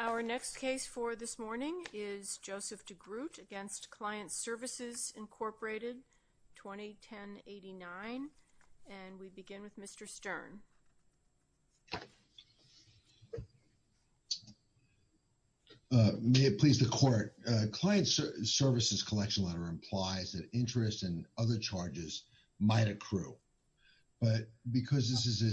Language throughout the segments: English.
Our next case for this morning is Joseph Degroot against Client Services, Incorporated, 2010-89, and we begin with Mr. Stern. May it please the court, Client Services collection letter implies that interest and other charges might accrue, but because this is a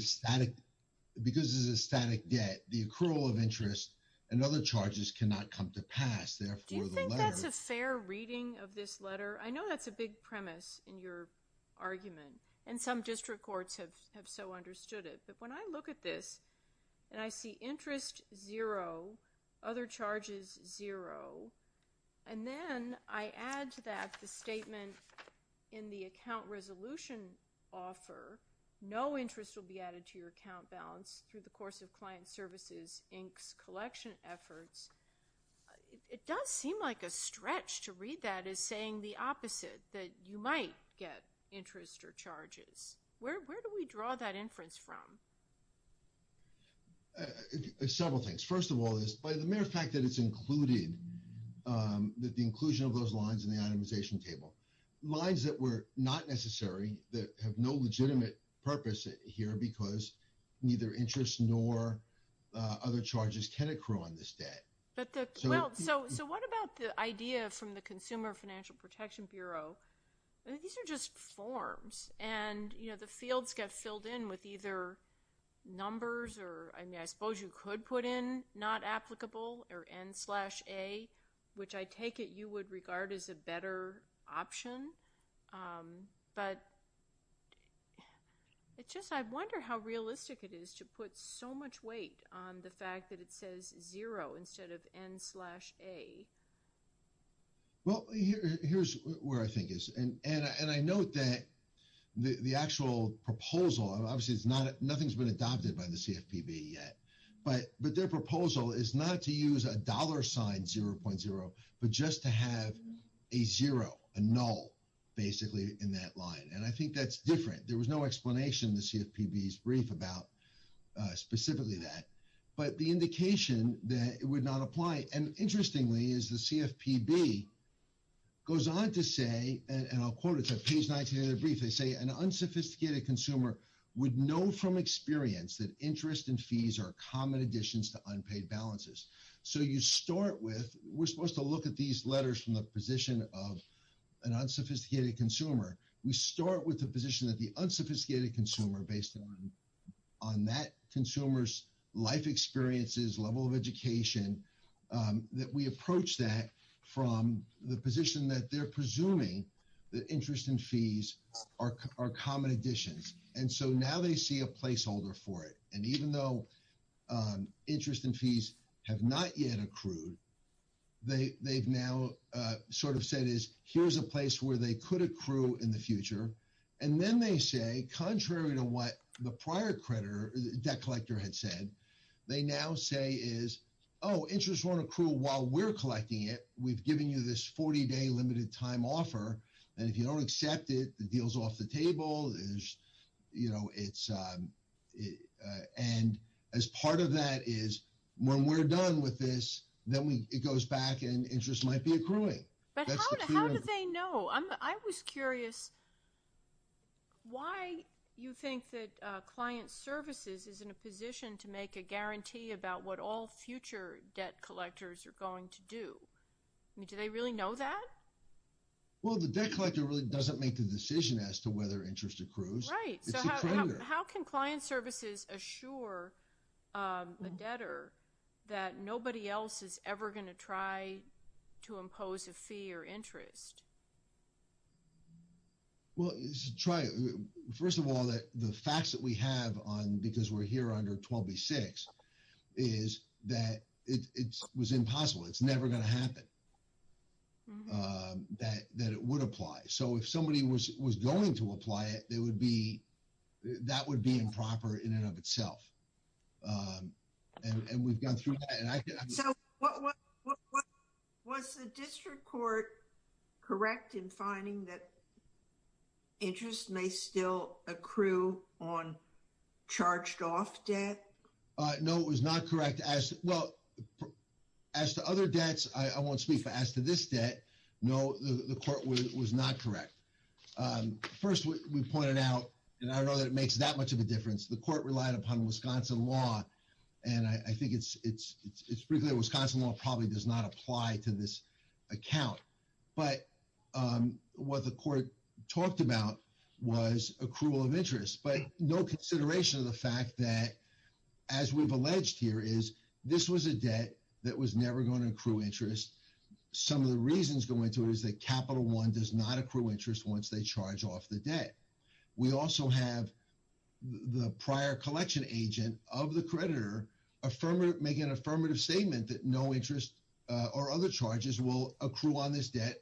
static debt, the accrual of interest and other charges cannot come to pass. Do you think that's a fair reading of this letter? I know that's a big premise in your argument, and some district courts have so understood it, but when I look at this, and I see interest zero, other charges zero, and then I add to that the statement in the offer, no interest will be added to your account balance through the course of Client Services, Inc.'s collection efforts, it does seem like a stretch to read that as saying the opposite, that you might get interest or charges. Where do we draw that inference from? Several things. First of all, by the mere fact that it's included, that the inclusion of those lines in the itemization table. Lines that were not necessary, that have no legitimate purpose here, because neither interest nor other charges can accrue on this debt. So what about the idea from the Consumer Financial Protection Bureau, these are just forms, and the fields get filled in with either numbers, or I suppose you could put in not applicable, or N-slash-A, which I take it you would regard as a better option, but it's just, I wonder how realistic it is to put so much weight on the fact that it says zero instead of N-slash-A. Well, here's where I think it is, and I note that the actual proposal, obviously nothing's been adopted by the CFPB yet, but their proposal is not to use a dollar sign 0.0, but just to have a zero, a null, basically in that line, and I think that's different. There was no explanation in the CFPB's brief about specifically that, but the indication that it would not apply, and interestingly is the CFPB goes on to say, and I'll quote it, it's So you start with, we're supposed to look at these letters from the position of an unsophisticated consumer. We start with the position that the unsophisticated consumer, based on that consumer's life experiences, level of education, that we approach that from the position that they're presuming that interest and fees are common additions, and so now they see a placeholder for it, and even though interest and fees have not yet accrued, they've now sort of said is, here's a place where they could accrue in the future, and then they say, contrary to what the prior debt collector had said, they now say is, oh, interest won't be a time offer, and if you don't accept it, the deal's off the table, and as part of that is, when we're done with this, then it goes back and interest might be accruing. But how do they know? I was curious why you think that client services is in a position to make a guarantee about what all future debt collectors are going to do. Do they really know that? Well, the debt collector really doesn't make the decision as to whether interest accrues. Right. So how can client services assure a debtor that nobody else is ever going to try to impose a fee or interest? Well, first of all, the facts that we have on because that it would apply. So if somebody was going to apply it, that would be improper in and of itself, and we've gone through that. So was the district court correct in finding that interest may still accrue on charged-off debt? No, it was not correct. Well, as to other debts, I won't speak, but as to this debt, no, the court was not correct. First, we pointed out, and I don't know that it makes that much of a difference, the court relied upon Wisconsin law, and I think it's pretty clear Wisconsin law probably does not apply to this account, but what the court talked about was accrual of interest, but no consideration of the fact that, as we've alleged here, is this was a debt that was never going to accrue interest. Some of the reasons going to it is that Capital One does not accrue interest once they charge off the debt. We also have the prior collection agent of the creditor making an affirmative statement that no interest or other charges will accrue on this debt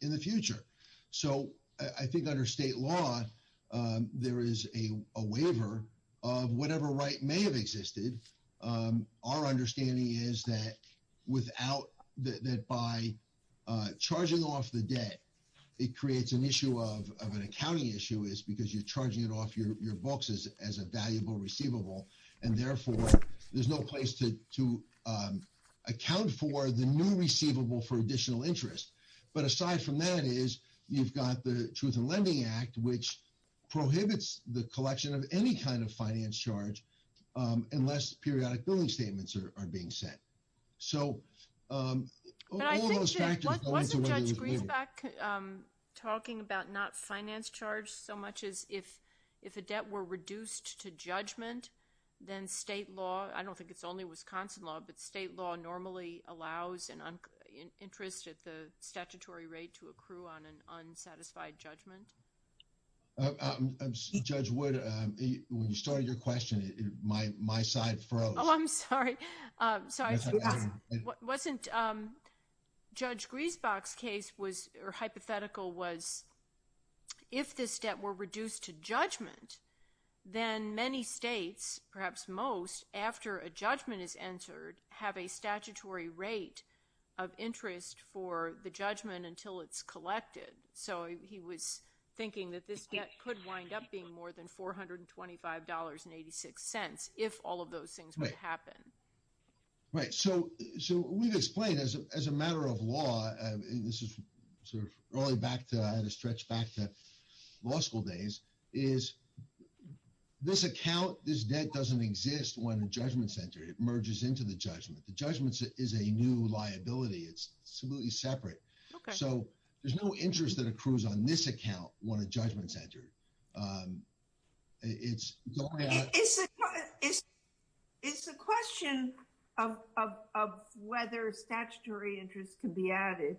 in the future. So I think under state law, there is a waiver of whatever right may have existed. Our understanding is that by charging off the debt, it creates an issue of an accounting issue is because you're charging it off your books as a valuable receivable, and therefore, there's no place to account for the receivable for additional interest. But aside from that is, you've got the Truth in Lending Act, which prohibits the collection of any kind of finance charge unless periodic billing statements are being sent. So all those factors... Wasn't Judge Griesbach talking about not finance charge so much as if a debt were reduced to judgment, then state law, I don't think it's only Wisconsin law, but state law normally allows an interest at the statutory rate to accrue on an unsatisfied judgment? Judge Wood, when you started your question, my side froze. Oh, I'm sorry. Wasn't Judge Griesbach's hypothetical was if this debt were reduced to judgment, then many states, perhaps most, after a judgment is entered, have a statutory rate of interest for the judgment until it's collected. So he was thinking that this could wind up being more than $425.86 if all of those things would happen. Right. So we've explained as a matter of law, and this is sort of rolling back to, stretch back to law school days, is this account, this debt doesn't exist when a judgment's entered. It merges into the judgment. The judgment is a new liability. It's absolutely separate. So there's no interest that accrues on this account when a judgment's entered. It's a question of whether statutory interest can be added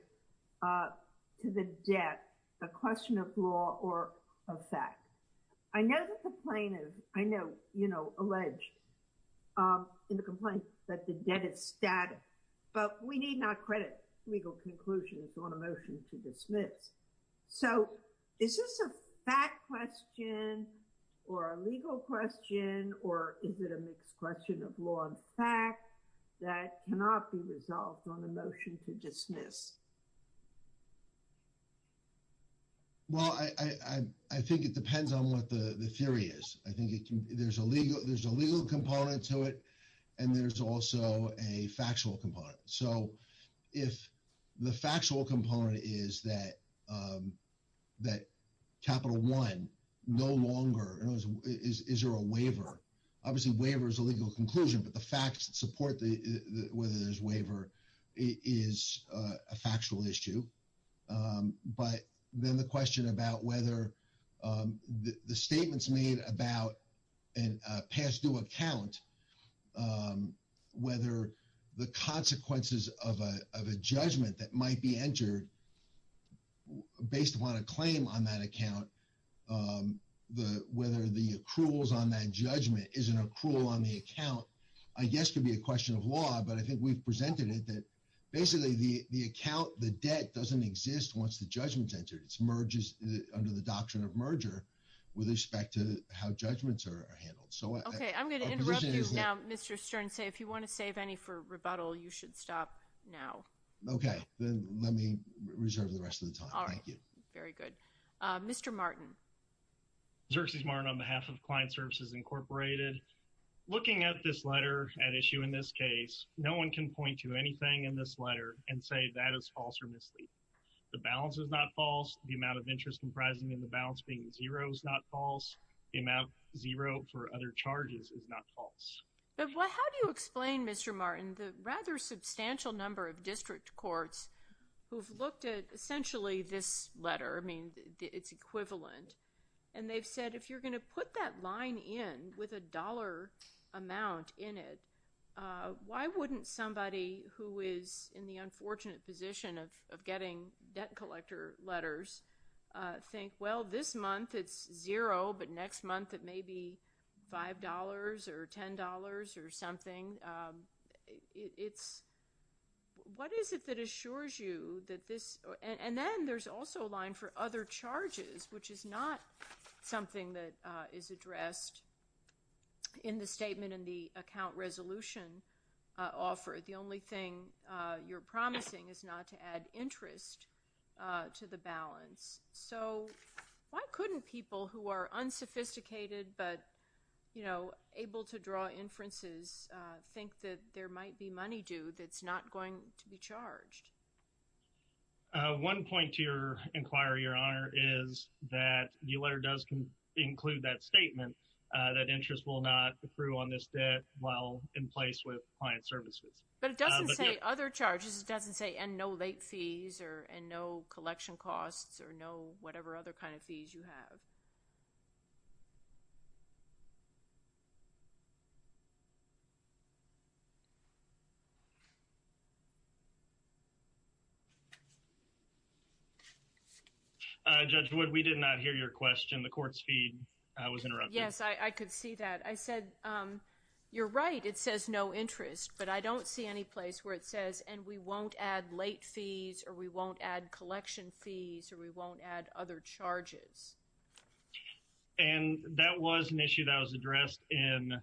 to the debt, a question of law or of fact. I know that the plaintiff, I know, you know, alleged in the complaint that the debt is static, but we need not credit legal conclusions on a motion to dismiss. So is this a fact question or a legal question or is it a mixed question of law and fact that cannot be resolved on a motion to dismiss? Well, I think it depends on what the theory is. I think there's a legal component to it and there's also a factual component. So if the factual component is that Capital One no longer, is there a waiver? Obviously, waiver is a legal conclusion, but the facts that support whether there's waiver is a factual issue. But then the question about whether the statements made about a past due account, whether the consequences of a judgment that might be entered based upon a claim on that account, whether the accruals on that judgment is an accrual on the account, I guess could be a question of law, but I think we've presented it basically, the account, the debt doesn't exist once the judgment's entered. It's under the doctrine of merger with respect to how judgments are handled. Okay, I'm going to interrupt you now, Mr. Stern. Say if you want to save any for rebuttal, you should stop now. Okay, then let me reserve the rest of the time. Thank you. Very good. Mr. Martin. Xerces Martin on behalf of Client Services Incorporated. Looking at this letter at issue in this case, no one can point to anything in this letter and say that is false or misleading. The balance is not false. The amount of interest comprising in the balance being zero is not false. The amount zero for other charges is not false. Well, how do you explain, Mr. Martin, the rather substantial number of district courts who've looked at essentially this letter? I mean, it's equivalent. And they've said, if you're going to put that line in with a dollar amount in it, why wouldn't somebody who is in the unfortunate position of getting debt collector letters think, well, this month it's zero, but next month it may be $5 or $10 or something? What is it that assures you that this? And then there's also a line for other charges, which is not something that is addressed in the statement in the account resolution offer. The only thing you're promising is not to add interest to the balance. So why couldn't people who are unsophisticated but able to draw inferences think that there might be money due that's not going to be charged? One point to your inquiry, Your Honor, is that the letter does include that statement that interest will not accrue on this debt while in place with client services. But it doesn't say other charges. It doesn't say and no late fees or and no collection costs or no whatever other kind of fees you have. Judge Wood, we did not hear your question. The court's feed was interrupted. Yes, I could see that. I said, you're right, it says no interest, but I don't see any place where it says and we won't add late fees or we won't add collection fees or we won't add other charges. And that was an issue that was addressed in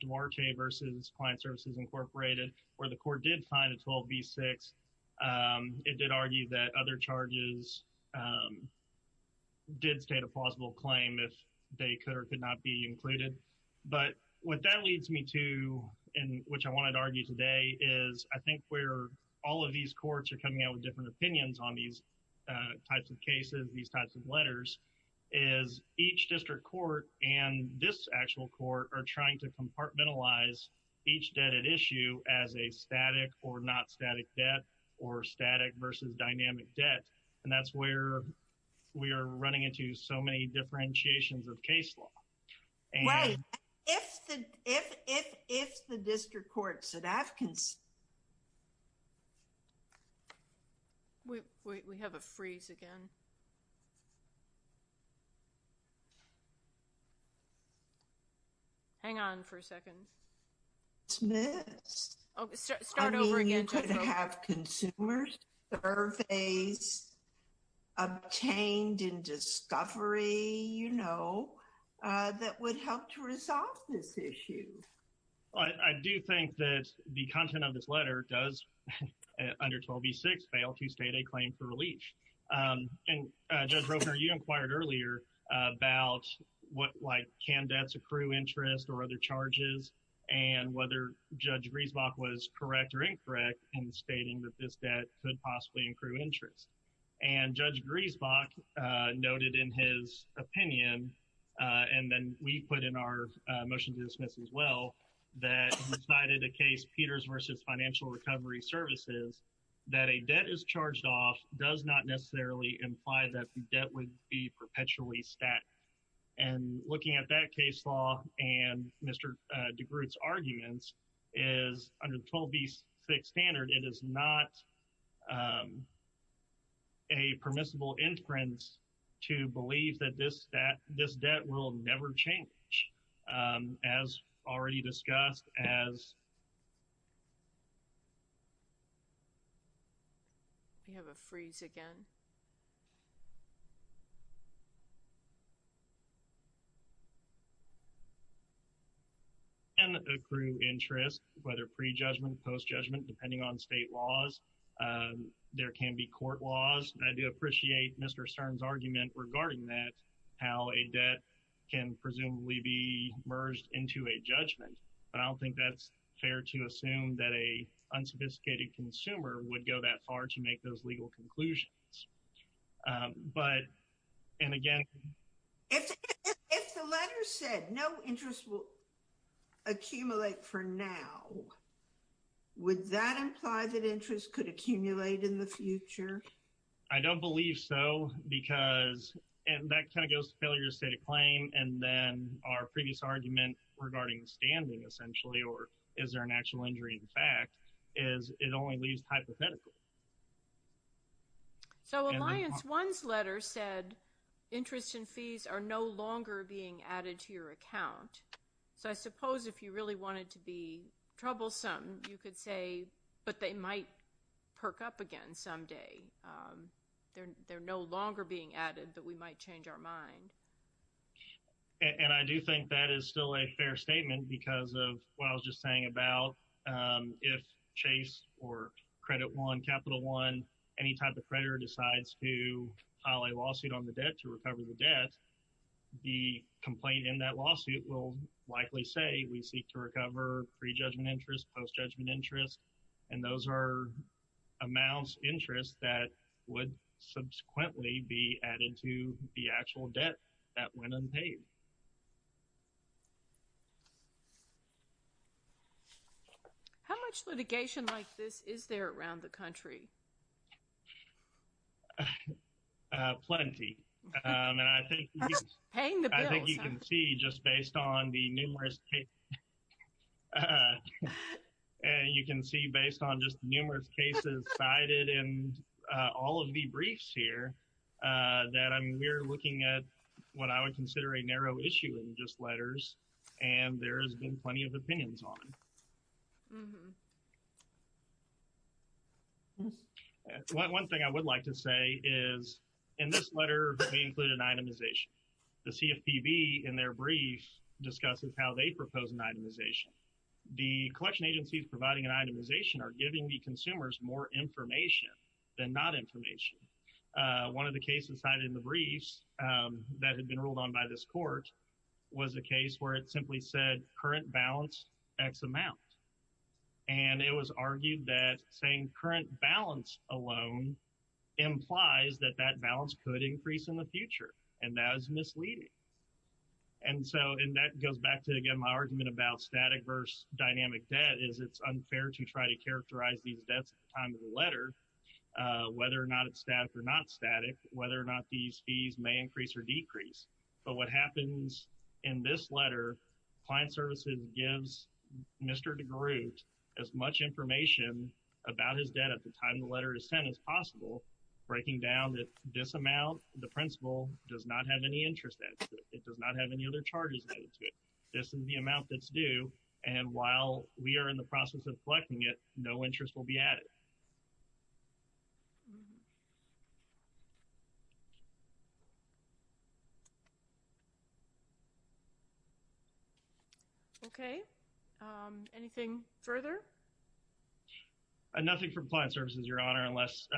Duarte versus Client Services Incorporated where the court did find a 12B6. It did argue that other charges did state a plausible claim if they could or could not be included. But what that leads me to and which I wanted to argue today is I think where all of these courts are coming out with different opinions on these types of cases, these types of letters, is each district court and this actual court are trying to compartmentalize each debt at issue as a static or not static debt or static versus dynamic debt. And that's where we are running into so many differentiations of case law. Right. If the district courts at Afghanistan... Wait, we have a freeze again. Hang on for a second. It's missed. Start over again. Consumers surveys obtained in discovery, you know, that would help to resolve this issue. I do think that the content of this letter does, under 12B6, fail to state a claim for relief. And Judge Roper, you inquired earlier about what, like, can debts accrue interest or other charges and whether Judge Griesbach was correct or incorrect in stating that this debt could possibly accrue interest. And Judge Griesbach noted in his opinion, and then we put in our motion to dismiss as well, that he cited a case, Peters v. Financial Recovery Services, that a debt is charged off does not necessarily imply that the debt would be perpetually stacked. And looking at that case law and Mr. DeGroote's arguments is under 12B6 standard, it is not a permissible inference to believe that this debt will never change, as already discussed as... We have a freeze again. ...accrue interest, whether pre-judgment, post-judgment, depending on state laws. There can be court laws. And I do appreciate Mr. Stern's argument regarding that, how a debt can presumably be merged into a judgment. But I don't think that's fair to assume that a unsophisticated consumer would go that far to make those legal conclusions. If the letter said no interest will accumulate for now, would that imply that interest could accumulate in the future? I don't believe so, because that kind of goes to failure to state a claim. And then our previous argument regarding standing essentially, or is there an actual injury in is it only leaves hypothetical. So Alliance 1's letter said interest and fees are no longer being added to your account. So I suppose if you really wanted to be troublesome, you could say, but they might perk up again someday. They're no longer being added, but we might change our mind. And I do think that is still a fair statement because of what I was just saying about if Chase or Credit One, Capital One, any type of creditor decides to file a lawsuit on the debt to recover the debt, the complaint in that lawsuit will likely say we seek to recover pre-judgment interest, post-judgment interest. And those are amounts interest that would subsequently be added to the actual debt that went unpaid. How much litigation like this is there around the country? Plenty. And I think you can see just based on the numerous cases, and you can see based on just numerous cases cited in all of the briefs here, that I'm we're looking at what I would consider a narrow range of cases. And I think that's a pretty narrow issue in just letters. And there has been plenty of opinions on. One thing I would like to say is in this letter, they include an itemization. The CFPB in their brief discusses how they propose an itemization. The collection agencies providing an itemization are giving the consumers more information than not information. One of the cases cited in the briefs that had been ruled on by this court was a case where it simply said current balance x amount. And it was argued that saying current balance alone implies that that balance could increase in the future. And that was misleading. And so, and that goes back to, again, my argument about static versus dynamic debt is it's unfair to try to characterize these debts at the time of the whether or not these fees may increase or decrease. But what happens in this letter, client services gives Mr. DeGroote as much information about his debt at the time the letter is sent as possible, breaking down that this amount, the principal does not have any interest that it does not have any other charges added to it. This is the amount that's due. And while we are in the process of collecting it, no interest will be added. Okay. Anything further? Nothing from client services, Your Honor, unless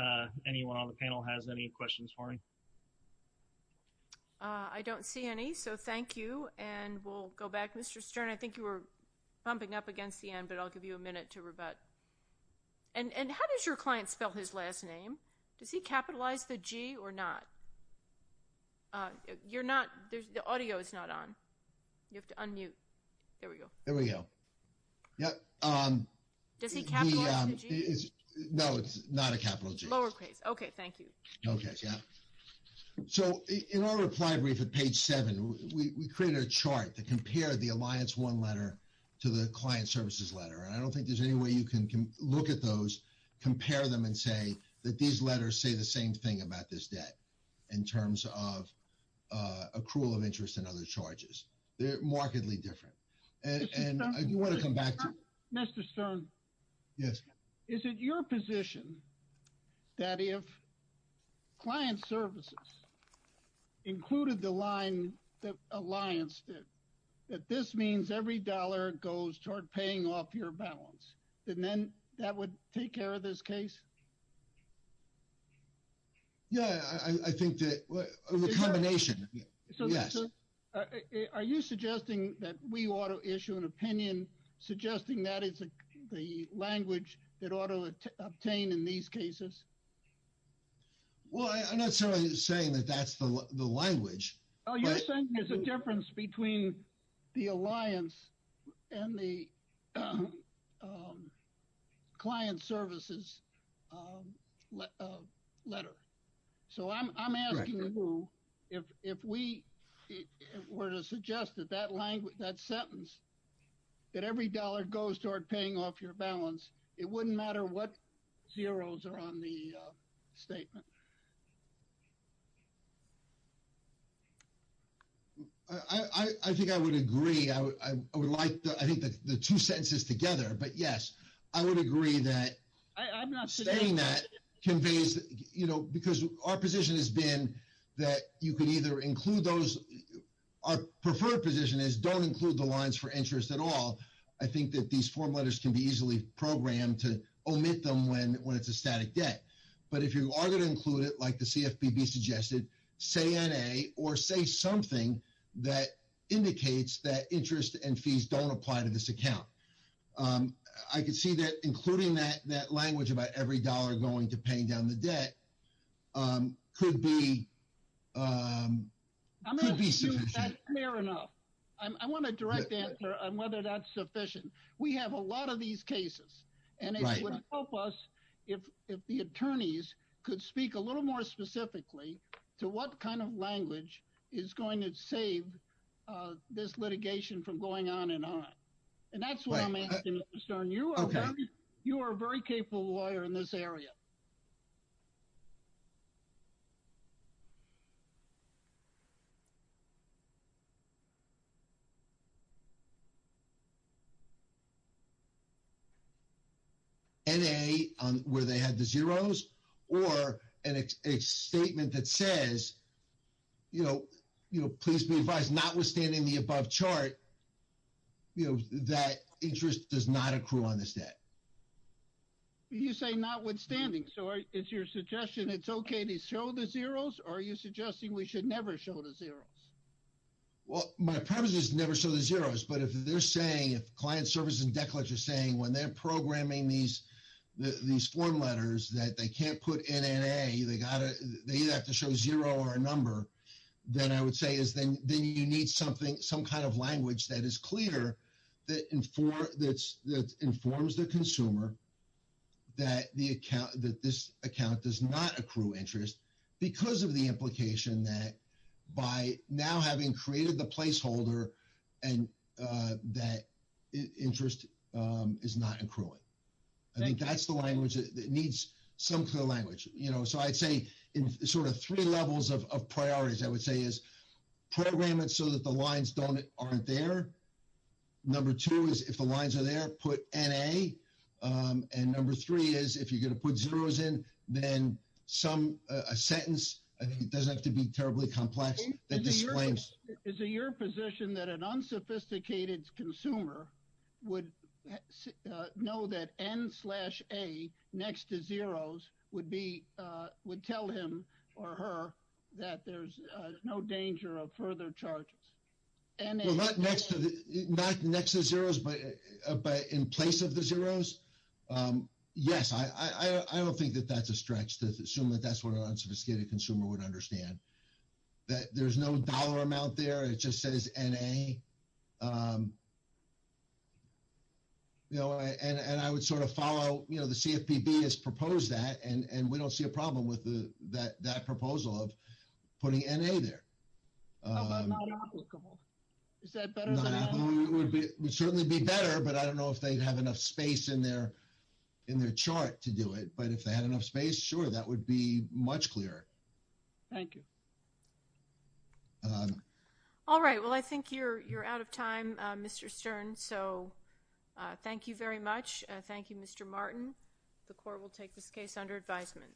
anyone on the panel has any questions for me. I don't see any, so thank you. And we'll go back. Mr. Stern, I think you were bumping up against the end, but I'll give you a minute to rebut. And how does your client spell his last name? Does he capitalize the G or not? You're not, the audio is not on. You have to unmute. There we go. There we go. Yep. Does he capitalize the G? No, it's not a capital G. Lowercase. Okay. Thank you. Okay. Yeah. So, in our reply brief at page seven, we created a chart to compare the Alliance One letter to the client services letter. And I don't think there's any way you can look at those, compare them and say that these letters say the same thing about this debt in terms of accrual of interest and other charges. They're markedly different. And you want to come back to Mr. Stern? Yes. Is it your position that if client services included the line that Alliance did, that this every dollar goes toward paying off your balance, and then that would take care of this case? Yeah, I think that a recombination. Yes. Are you suggesting that we ought to issue an opinion suggesting that is the language that ought to obtain in these cases? Well, I'm not saying that that's the language. Oh, you're saying there's a difference between the Alliance and the client services letter. So, I'm asking you, if we were to suggest that that sentence, that every dollar goes toward paying off your balance, it wouldn't matter what zeros are on the line? I think I would agree. I would like, I think that the two sentences together, but yes, I would agree that stating that conveys, because our position has been that you could either include those, our preferred position is don't include the lines for interest at all. I think that these form letters can be easily programmed to omit them when it's a static debt. But if you are going to include it, like the CFPB suggested, say N.A. or say something that indicates that interest and fees don't apply to this account. I could see that including that language about every dollar going to paying down the debt could be sufficient. I'm going to assume that's fair enough. I want a direct answer on whether that's sufficient. We have a lot of these cases, and it would help us if the attorneys could speak a little more specifically to what kind of language is going to save this litigation from going on and on. And that's what I'm asking, Mr. Stern. You are a very capable lawyer in this area. N.A., where they had the zeros, or a statement that says, you know, please be advised, notwithstanding the above chart, you know, that interest does not accrue on this debt. You say notwithstanding. So is your suggestion it's okay to show the zeros, or are you suggesting we should never show the zeros? Well, my premise is never show the zeros. But if they're saying, if client service and debt collectors are saying when they're programming these form letters that they can't put N.N.A., they either have to show zero or a number, then I would say is then you need something, some kind of language that is clear that informs the consumer that the account, that this account does not accrue interest because of the implication that by now having created the placeholder and that interest is not accruing. I think that's the language that needs some clear language. You know, so I'd say in sort of three levels of priorities, I would say is program it so that the lines don't, aren't there. Number two is if the lines are there, put N.A. And number three is if you're going to put zeros in, then some, a sentence, I think it doesn't have to be terribly complex. Is it your position that an unsophisticated consumer would know that N slash A next to zeros would be, would tell him or her that there's no danger of further charges? Well, not next to the zeros, but in place of the zeros. Yes, I don't think that that's a stretch to assume that that's what an unsophisticated consumer would understand. That there's no dollar amount there. It just says N.A. You know, and I would sort of follow, you know, the CFPB has proposed that and we don't see a problem with that proposal of putting N.A. there. How about not applicable? Is that better than not applicable? It would certainly be better, but I don't know if they'd have enough space in their chart to do it, but if they had enough space, sure, that would be much clearer. Thank you. All right. Well, I think you're out of time, Mr. Stern. So, thank you very much. Thank you, Mr. Martin. The court will take this case under advisement.